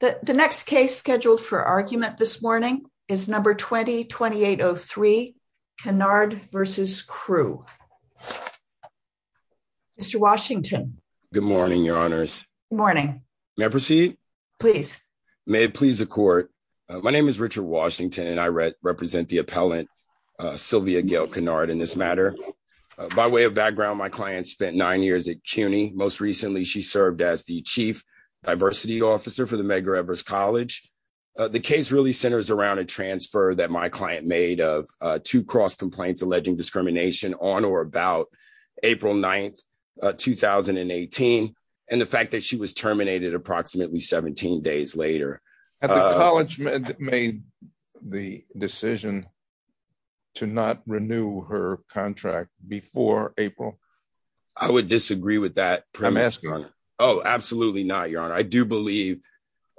The next case scheduled for argument this morning is number 20-2803, Canard v. Crew. Mr. Washington. Good morning, Your Honors. Good morning. May I proceed? Please. May it please the Court. My name is Richard Washington, and I represent the appellant, Sylvia Gail Canard, in this matter. By way of background, my client spent nine years at CUNY. Most recently, she served as the chief diversity officer for the Medgar Evers College. The case really centers around a transfer that my client made of two cross complaints alleging discrimination on or about April 9th, 2018, and the fact that she was terminated approximately 17 days later. Had the college made the decision to not renew her contract before April? I would disagree with that. I'm asking. I do believe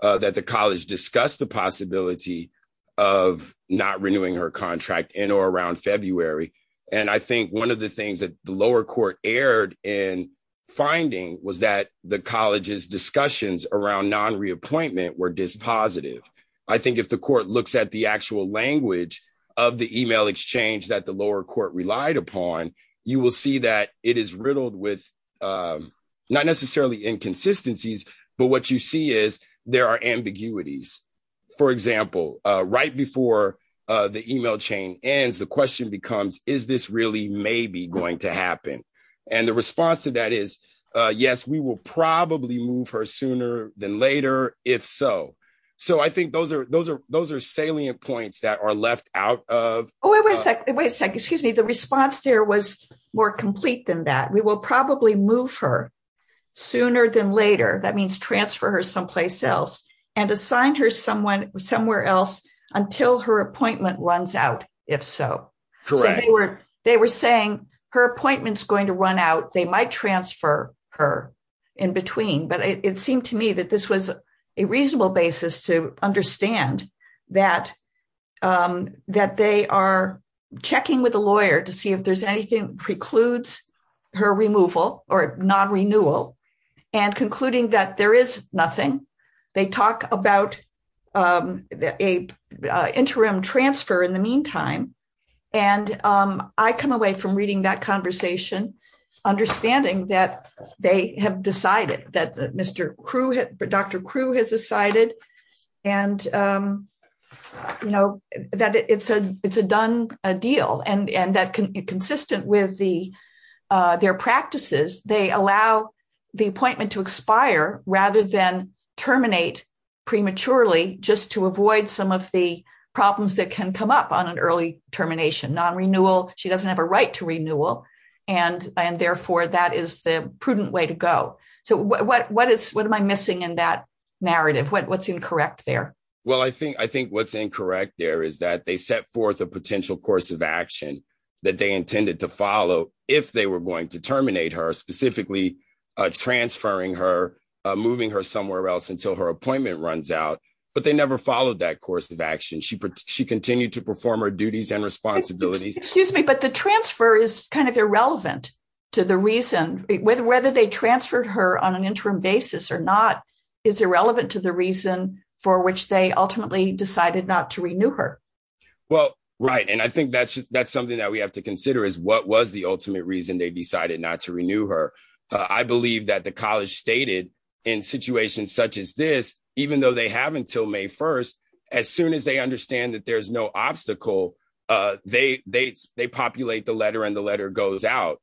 that the college discussed the possibility of not renewing her contract in or around February, and I think one of the things that the lower court erred in finding was that the college's discussions around non-reappointment were dispositive. I think if the court looks at the actual language of the email exchange that the lower court relied upon, you will see that it is riddled with not necessarily inconsistencies, but what you see is there are ambiguities. For example, right before the email chain ends, the question becomes, is this really maybe going to happen? And the response to that is, yes, we will probably move her sooner than later, if so. So I think those are salient points that are left out of. Wait a second. Excuse me. The response there was more complete than that. We will probably move her sooner than later. That means transfer her someplace else and assign her somewhere else until her appointment runs out, if so. They were saying her appointment's going to run out. They might transfer her in between, but it seemed to me that this was a reasonable basis to understand that they are checking with a lawyer to see if there's anything precludes her removal or non-renewal and concluding that there is nothing. They talk about an interim transfer in the meantime, and I come away from reading that conversation understanding that they have decided, that Dr. Crew has decided, and that it's a done deal and that consistent with their practices, they allow the appointment to expire rather than terminate prematurely just to avoid some of the problems that can come up on an early termination. Non-renewal, she doesn't have a right to renewal, and therefore that is the prudent way to go. So what am I missing in that narrative? What's incorrect there? Well, I think what's incorrect there is that they set forth a potential course of action that they intended to follow if they were going to terminate her, specifically transferring her, moving her somewhere else until her appointment runs out. But they never followed that course of action. She continued to perform her duties and responsibilities. Excuse me, but the transfer is kind of irrelevant to the reason whether they transferred her on an interim basis or not is irrelevant to the reason for which they ultimately decided not to renew her. Well, right, and I think that's just that's something that we have to consider is what was the ultimate reason they decided not to renew her. I believe that the college stated in situations such as this, even though they have until May 1st, as soon as they understand that there's no obstacle, they populate the letter and the letter goes out.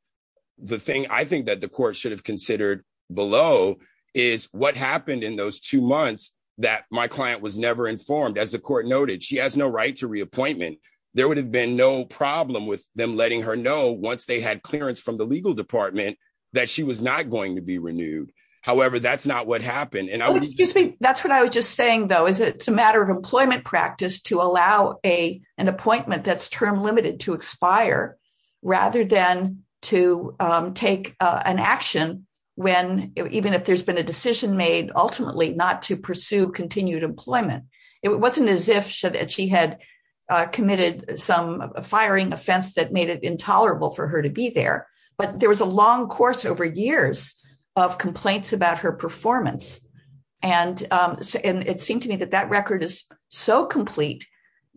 The thing I think that the court should have considered below is what happened in those two months that my client was never informed. As the court noted, she has no right to reappointment. There would have been no problem with them letting her know once they had clearance from the legal department that she was not going to be renewed. However, that's not what happened. That's what I was just saying, though, is it's a matter of employment practice to allow an appointment that's term limited to expire rather than to take an action when even if there's been a decision made ultimately not to pursue continued employment. It wasn't as if she had committed some firing offense that made it intolerable for her to be there. But there was a long course over years of complaints about her performance. And it seemed to me that that record is so complete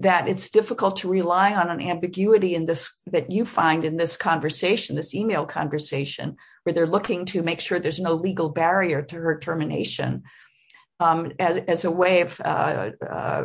that it's difficult to rely on an ambiguity in this that you find in this conversation, this email conversation where they're looking to make sure there's no legal barrier to her termination. As a way of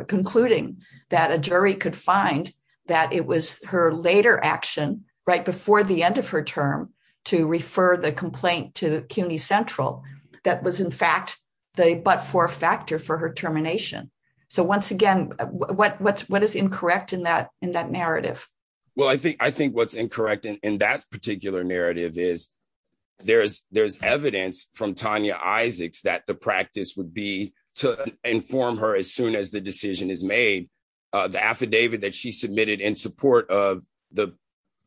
concluding that a jury could find that it was her later action right before the end of her term to refer the complaint to CUNY Central that was, in fact, the but for factor for her termination. So once again, what is incorrect in that in that narrative? Well, I think I think what's incorrect in that particular narrative is there's there's evidence from Tanya Isaacs that the practice would be to inform her as soon as the decision is made. The affidavit that she submitted in support of the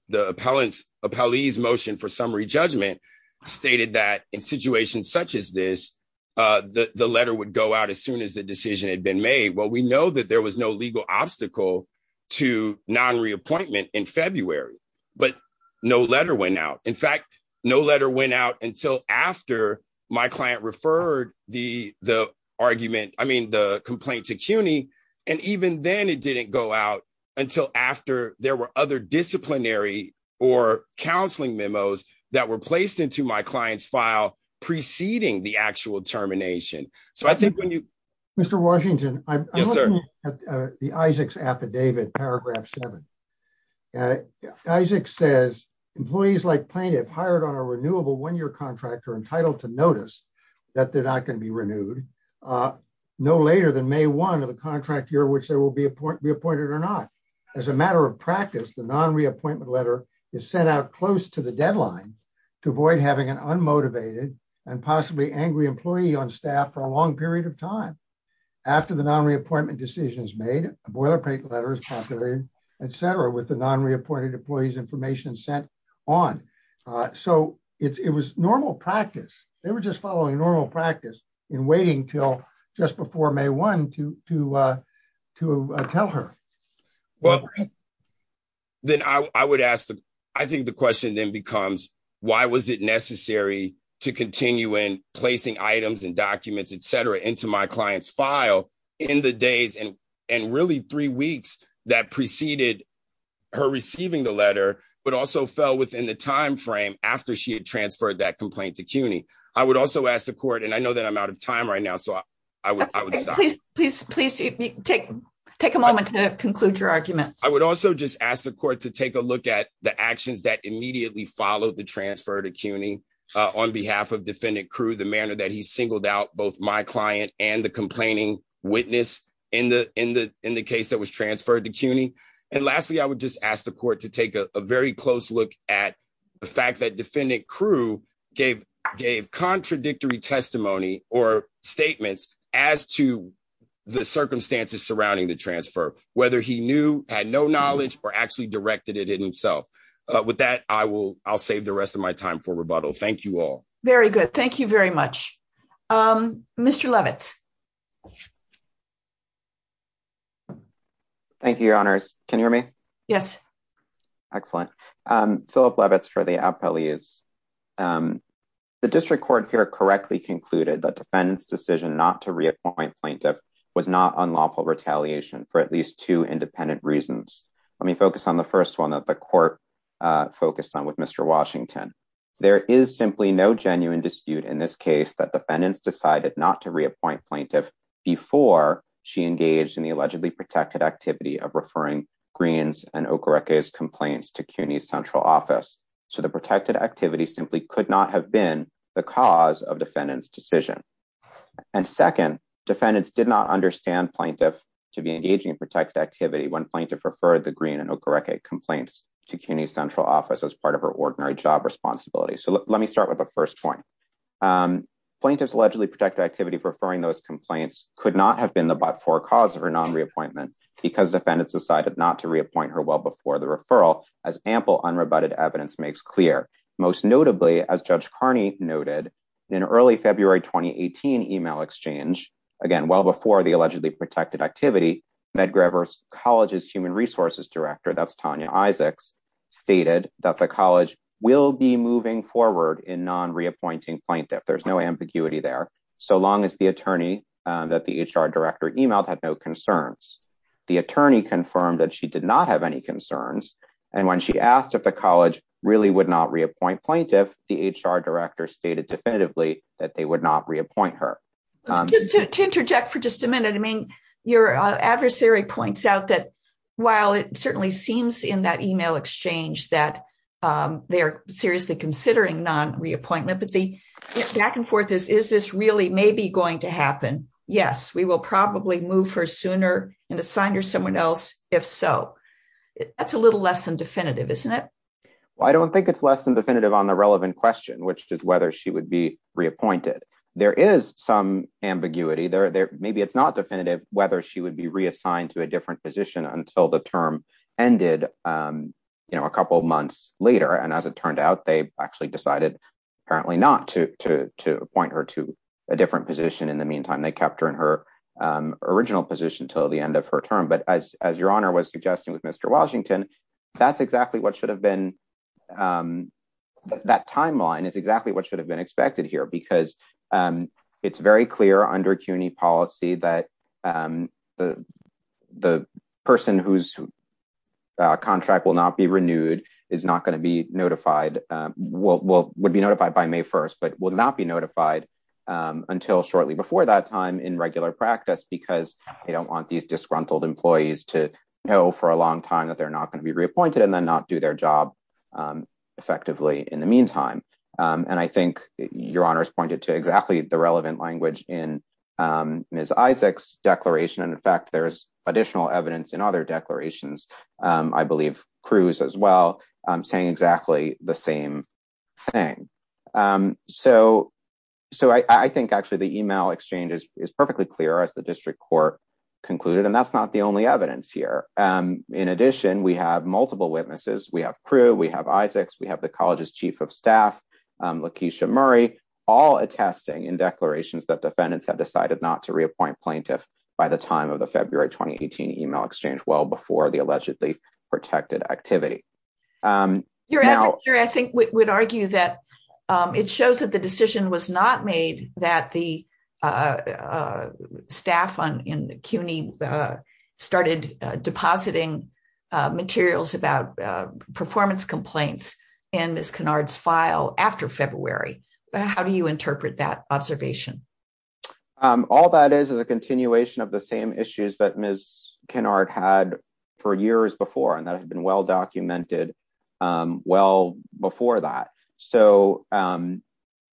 the appellants a police motion for summary judgment stated that in situations such as this, the letter would go out as soon as the decision had been made. Well, we know that there was no legal obstacle to non reappointment in February, but no letter went out. In fact, no letter went out until after my client referred the the argument. I mean, the complaint to CUNY and even then it didn't go out until after there were other disciplinary or counseling memos that were placed into my client's file preceding the actual termination. So I think when you Mr. Washington. Yes, sir. The Isaacs affidavit paragraph seven. Isaac says employees like plaintiff hired on a renewable when your contractor entitled to notice that they're not going to be renewed. No later than May one of the contract year which there will be a point reappointed or not. As a matter of practice the non reappointment letter is sent out close to the deadline to avoid having an unmotivated and possibly angry employee on staff for a long period of time. After the non reappointment decisions made a boilerplate letters, etc with the non reappointed employees information sent on. So, it was normal practice, they were just following normal practice in waiting till just before May one to to to tell her. Well, then I would ask the, I think the question then becomes, why was it necessary to continue in placing items and documents etc into my clients file in the days and and really three weeks that preceded her receiving the letter, but also fell within the timeframe after she had transferred that complaint to CUNY. I would also ask the court and I know that I'm out of time right now so I would please please take, take a moment to conclude your argument, I would also just ask the court to take a look at the actions that immediately followed the transfer to CUNY, on behalf of defendant crew the manner that he singled out both my client, and the complaining witness in the, in the, in the case that was transferred to CUNY. And lastly, I would just ask the court to take a very close look at the fact that defendant crew gave gave contradictory testimony or statements as to the circumstances surrounding the transfer, whether he knew had no knowledge or actually directed it himself. But with that, I will, I'll save the rest of my time for rebuttal. Thank you all. Very good. Thank you very much. Mr Levitt. Thank you, Your Honors. Can you hear me. Yes. Excellent. Philip Levitt for the appellees. The district court here correctly concluded that defendants decision not to reappoint plaintiff was not unlawful retaliation for at least two independent reasons. Let me focus on the first one that the court focused on with Mr Washington. There is simply no genuine dispute in this case that defendants decided not to reappoint plaintiff before she engaged in the allegedly protected activity of referring greens and complaints to CUNY central office as part of her ordinary job responsibility. So let me start with the first point. Plaintiffs allegedly protected activity preferring those complaints could not have been the but for cause of her non reappointment because defendants decided not to reappoint her well before the referral as ample unrebutted evidence makes clear. Most notably as Judge Carney noted in early February 2018 email exchange. Again, well before the allegedly protected activity Medgar versus colleges human resources director that's Tanya Isaacs stated that the college will be moving forward in non reappointing plaintiff if the HR director stated definitively that they would not reappoint her to interject for just a minute. I mean, your adversary points out that while it certainly seems in that email exchange that they are seriously considering non reappointment but the back and forth is is this really maybe going to happen. Yes, we will probably move her sooner and assign her someone else. If so, that's a little less than definitive isn't it. I don't think it's less than definitive on the relevant question which is whether she would be reappointed. There is some ambiguity there there maybe it's not definitive whether she would be reassigned to a different position until the term ended. You know, a couple months later and as it turned out they actually decided, apparently not to point her to a different position in the meantime they kept her in her original position till the end of her term but as as your honor was suggesting with Mr. Washington. That's exactly what should have been that timeline is exactly what should have been expected here because it's very clear under CUNY policy that the, the person who's contract will not be renewed is not going to be notified. Will be notified by May 1 but will not be notified until shortly before that time in regular practice because they don't want these disgruntled employees to know for a long time that they're not going to be reappointed and then not do their job effectively in the meantime. And I think your honors pointed to exactly the relevant language in his Isaacs declaration and in fact there's additional evidence and other declarations. I believe, Cruz as well. I'm saying exactly the same thing. So, so I think actually the email exchanges is perfectly clear as the district court concluded and that's not the only evidence here. In addition, we have multiple witnesses we have crew we have Isaacs we have the college's chief of staff. Laquisha Murray, all attesting in declarations that defendants have decided not to reappoint plaintiff by the time of the February 2018 email exchange well before the allegedly protected activity. I think we would argue that it shows that the decision was not made that the staff on in CUNY started depositing materials about performance complaints in this canards file after February. How do you interpret that observation. All that is is a continuation of the same issues that Miss canard had for years before and that had been well documented. Well, before that, so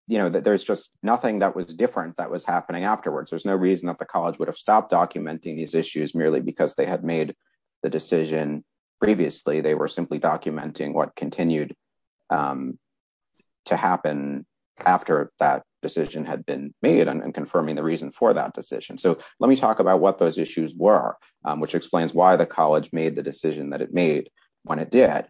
you know that there's just nothing that was different that was happening afterwards there's no reason that the college would have stopped documenting these issues merely because they had made the decision. Previously they were simply documenting what continued to happen after that decision had been made and confirming the reason for that decision so let me talk about what those issues were, which explains why the college made the decision that it made when it did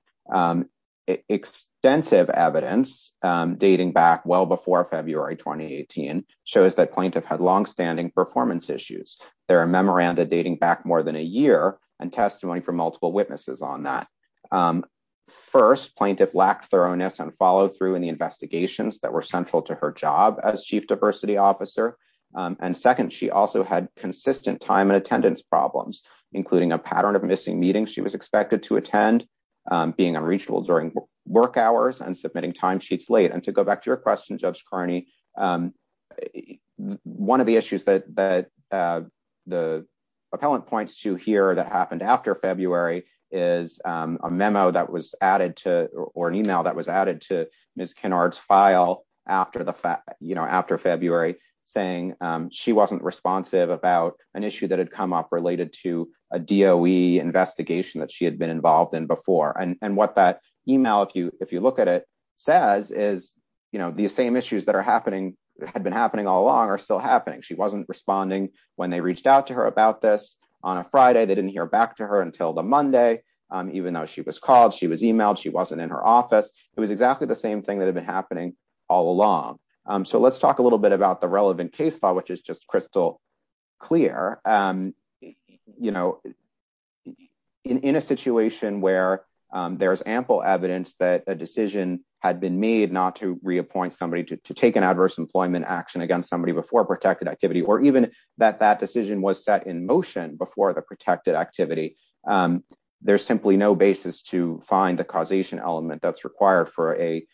extensive evidence dating back well before February 2018 shows that plaintiff had long standing performance issues, there are memoranda dating back more than a year and testimony from multiple witnesses on that. First plaintiff lack thoroughness and follow through in the investigations that were central to her job as chief diversity officer. And second, she also had consistent time and attendance problems, including a pattern of missing meetings she was expected to attend being unreachable during work hours and submitting timesheets late and to go back to your question judge Carney. One of the issues that the appellant points to here that happened after February, is a memo that was added to, or an email that was added to Miss canards file after the fact, you know after February, saying she wasn't responsive about an issue that had come up related to a do we investigation that she had been involved in before and what that email if you if you look at it says is, you know, the same issues that are happening had been happening all along are still happening she wasn't responding when they reached out to her about this on a Friday they didn't hear back to her until the Monday, even though she was called she was emailed she wasn't in her office, it was exactly the same thing that had been happening all along. So let's talk a little bit about the relevant case law which is just crystal clear. You know, in a situation where there's ample evidence that a decision had been made not to reappoint somebody to take an adverse employment action against somebody before protected activity or even that that decision was set in motion before the protected activity. There's simply no basis to find the causation element that's required for a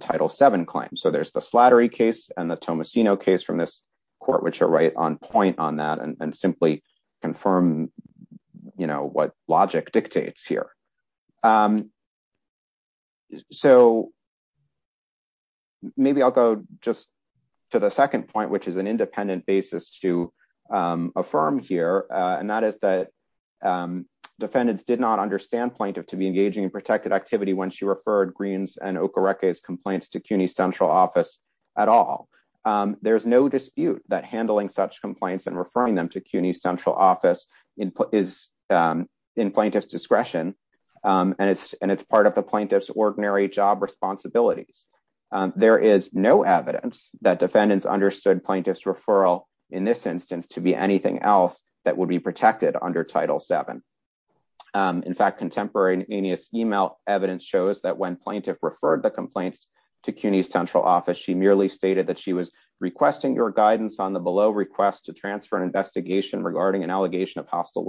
title seven claim so there's the slattery case, and the Thomas you know case from this court which are right on point on that and simply confirm, you know what logic dictates here. So, maybe I'll go just to the second point which is an independent basis to affirm here, and that is that defendants did not understand point of to be engaging in protected activity when she referred greens and correct his complaints to CUNY central office at all. There's no dispute that handling such complaints and referring them to CUNY central office input is in plaintiff's discretion, and it's, and it's part of the plaintiff's ordinary job responsibilities. There is no evidence that defendants understood plaintiff's referral. In this instance to be anything else that would be protected under title seven. In fact, contemporaryaneous email evidence shows that when plaintiff referred the complaints to CUNY central office she merely stated that she was requesting your guidance on the below request to transfer an investigation regarding an allegation of hostile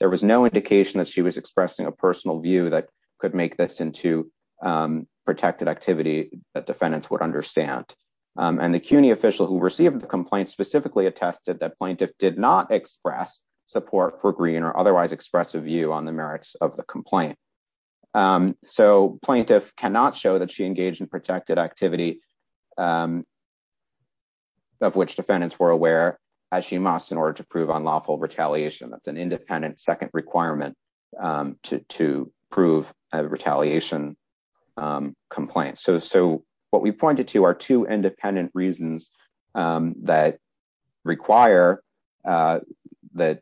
There was no indication that she was expressing a personal view that could make this into protected activity that defendants would understand. And the CUNY official who received the complaint specifically attested that plaintiff did not express support for green or otherwise expressive view on the merits of the complaint. So plaintiff cannot show that she engaged in protected activity of which defendants were aware, as she must in order to prove unlawful retaliation that's an independent second requirement to prove a retaliation complaint. So, so what we pointed to are two independent reasons that require that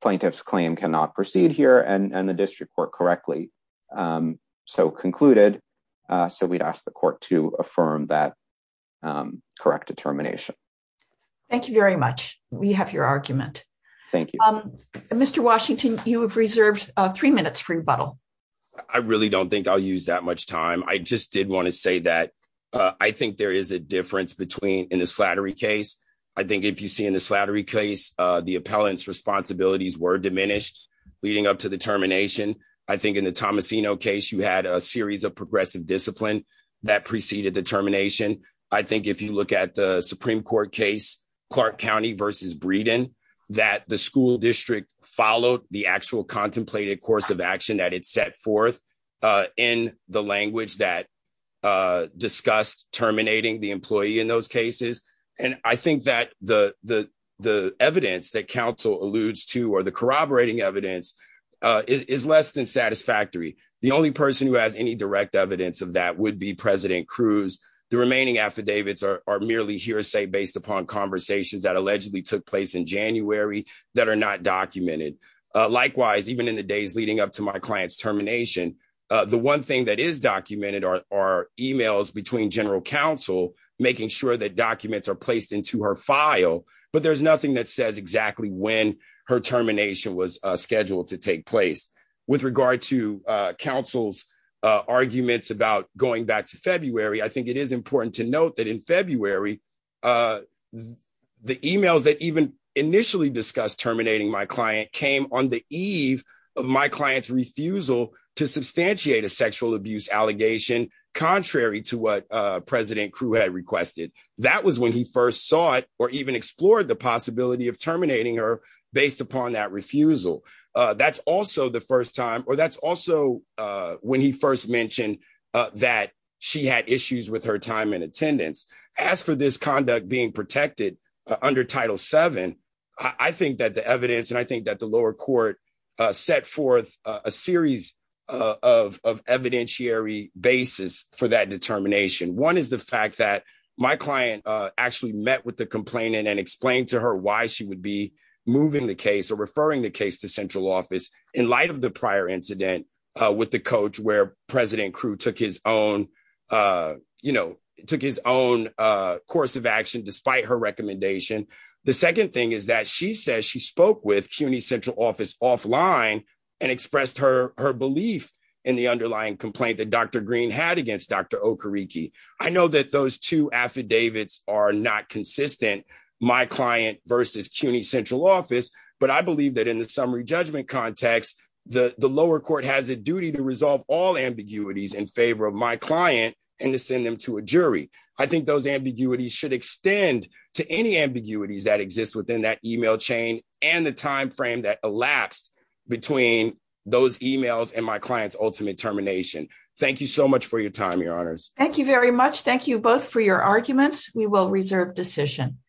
plaintiff's claim cannot proceed here and the district court correctly. So concluded. So we'd ask the court to affirm that correct determination. Thank you very much. We have your argument. Thank you, Mr Washington, you have reserved three minutes for rebuttal. I really don't think I'll use that much time I just did want to say that I think there is a difference between in the slattery case. I think if you see in the slattery case, the appellants responsibilities were diminished, leading up to the termination. I think in the Tomasino case you had a series of progressive discipline that preceded the termination. I think if you look at the Supreme Court case, Clark County versus Breeden, that the school district followed the actual contemplated course of action that it set forth in the language that discussed terminating the employee in those cases. And I think that the, the, the evidence that counsel alludes to or the corroborating evidence is less than satisfactory. The only person who has any direct evidence of that would be President Cruz. The remaining affidavits are merely hearsay based upon conversations that allegedly took place in January, that are not documented. Likewise, even in the days leading up to my clients termination. The one thing that is documented are emails between General Counsel, making sure that documents are placed into her file, but there's nothing that says exactly when her termination was scheduled to take place. With regard to counsel's arguments about going back to February I think it is important to note that in February, the emails that even initially discussed terminating my client came on the eve of my clients refusal to substantiate a sexual abuse allegation, contrary to what President That was when he first saw it, or even explored the possibility of terminating her based upon that refusal. That's also the first time, or that's also when he first mentioned that she had issues with her time and attendance. As for this conduct being protected under Title VII, I think that the evidence and I think that the lower court set forth a series of evidentiary basis for that determination. One is the fact that my client actually met with the complainant and explained to her why she would be moving the case or referring the case to central office in light of the prior incident with the coach where President Crew took his own, you know, took his own course of action, despite her recommendation. The second thing is that she says she spoke with CUNY central office offline and expressed her belief in the underlying complaint that Dr. Green had against Dr. Okereke. I know that those two affidavits are not consistent, my client versus CUNY central office, but I believe that in the summary judgment context, the lower court has a duty to resolve all ambiguities in favor of my client and to send them to a jury. I think those ambiguities should extend to any ambiguities that exist within that email chain and the timeframe that elapsed between those emails and my client's ultimate termination. Thank you so much for your time, Your Honors. Thank you very much. Thank you both for your arguments. We will reserve decision.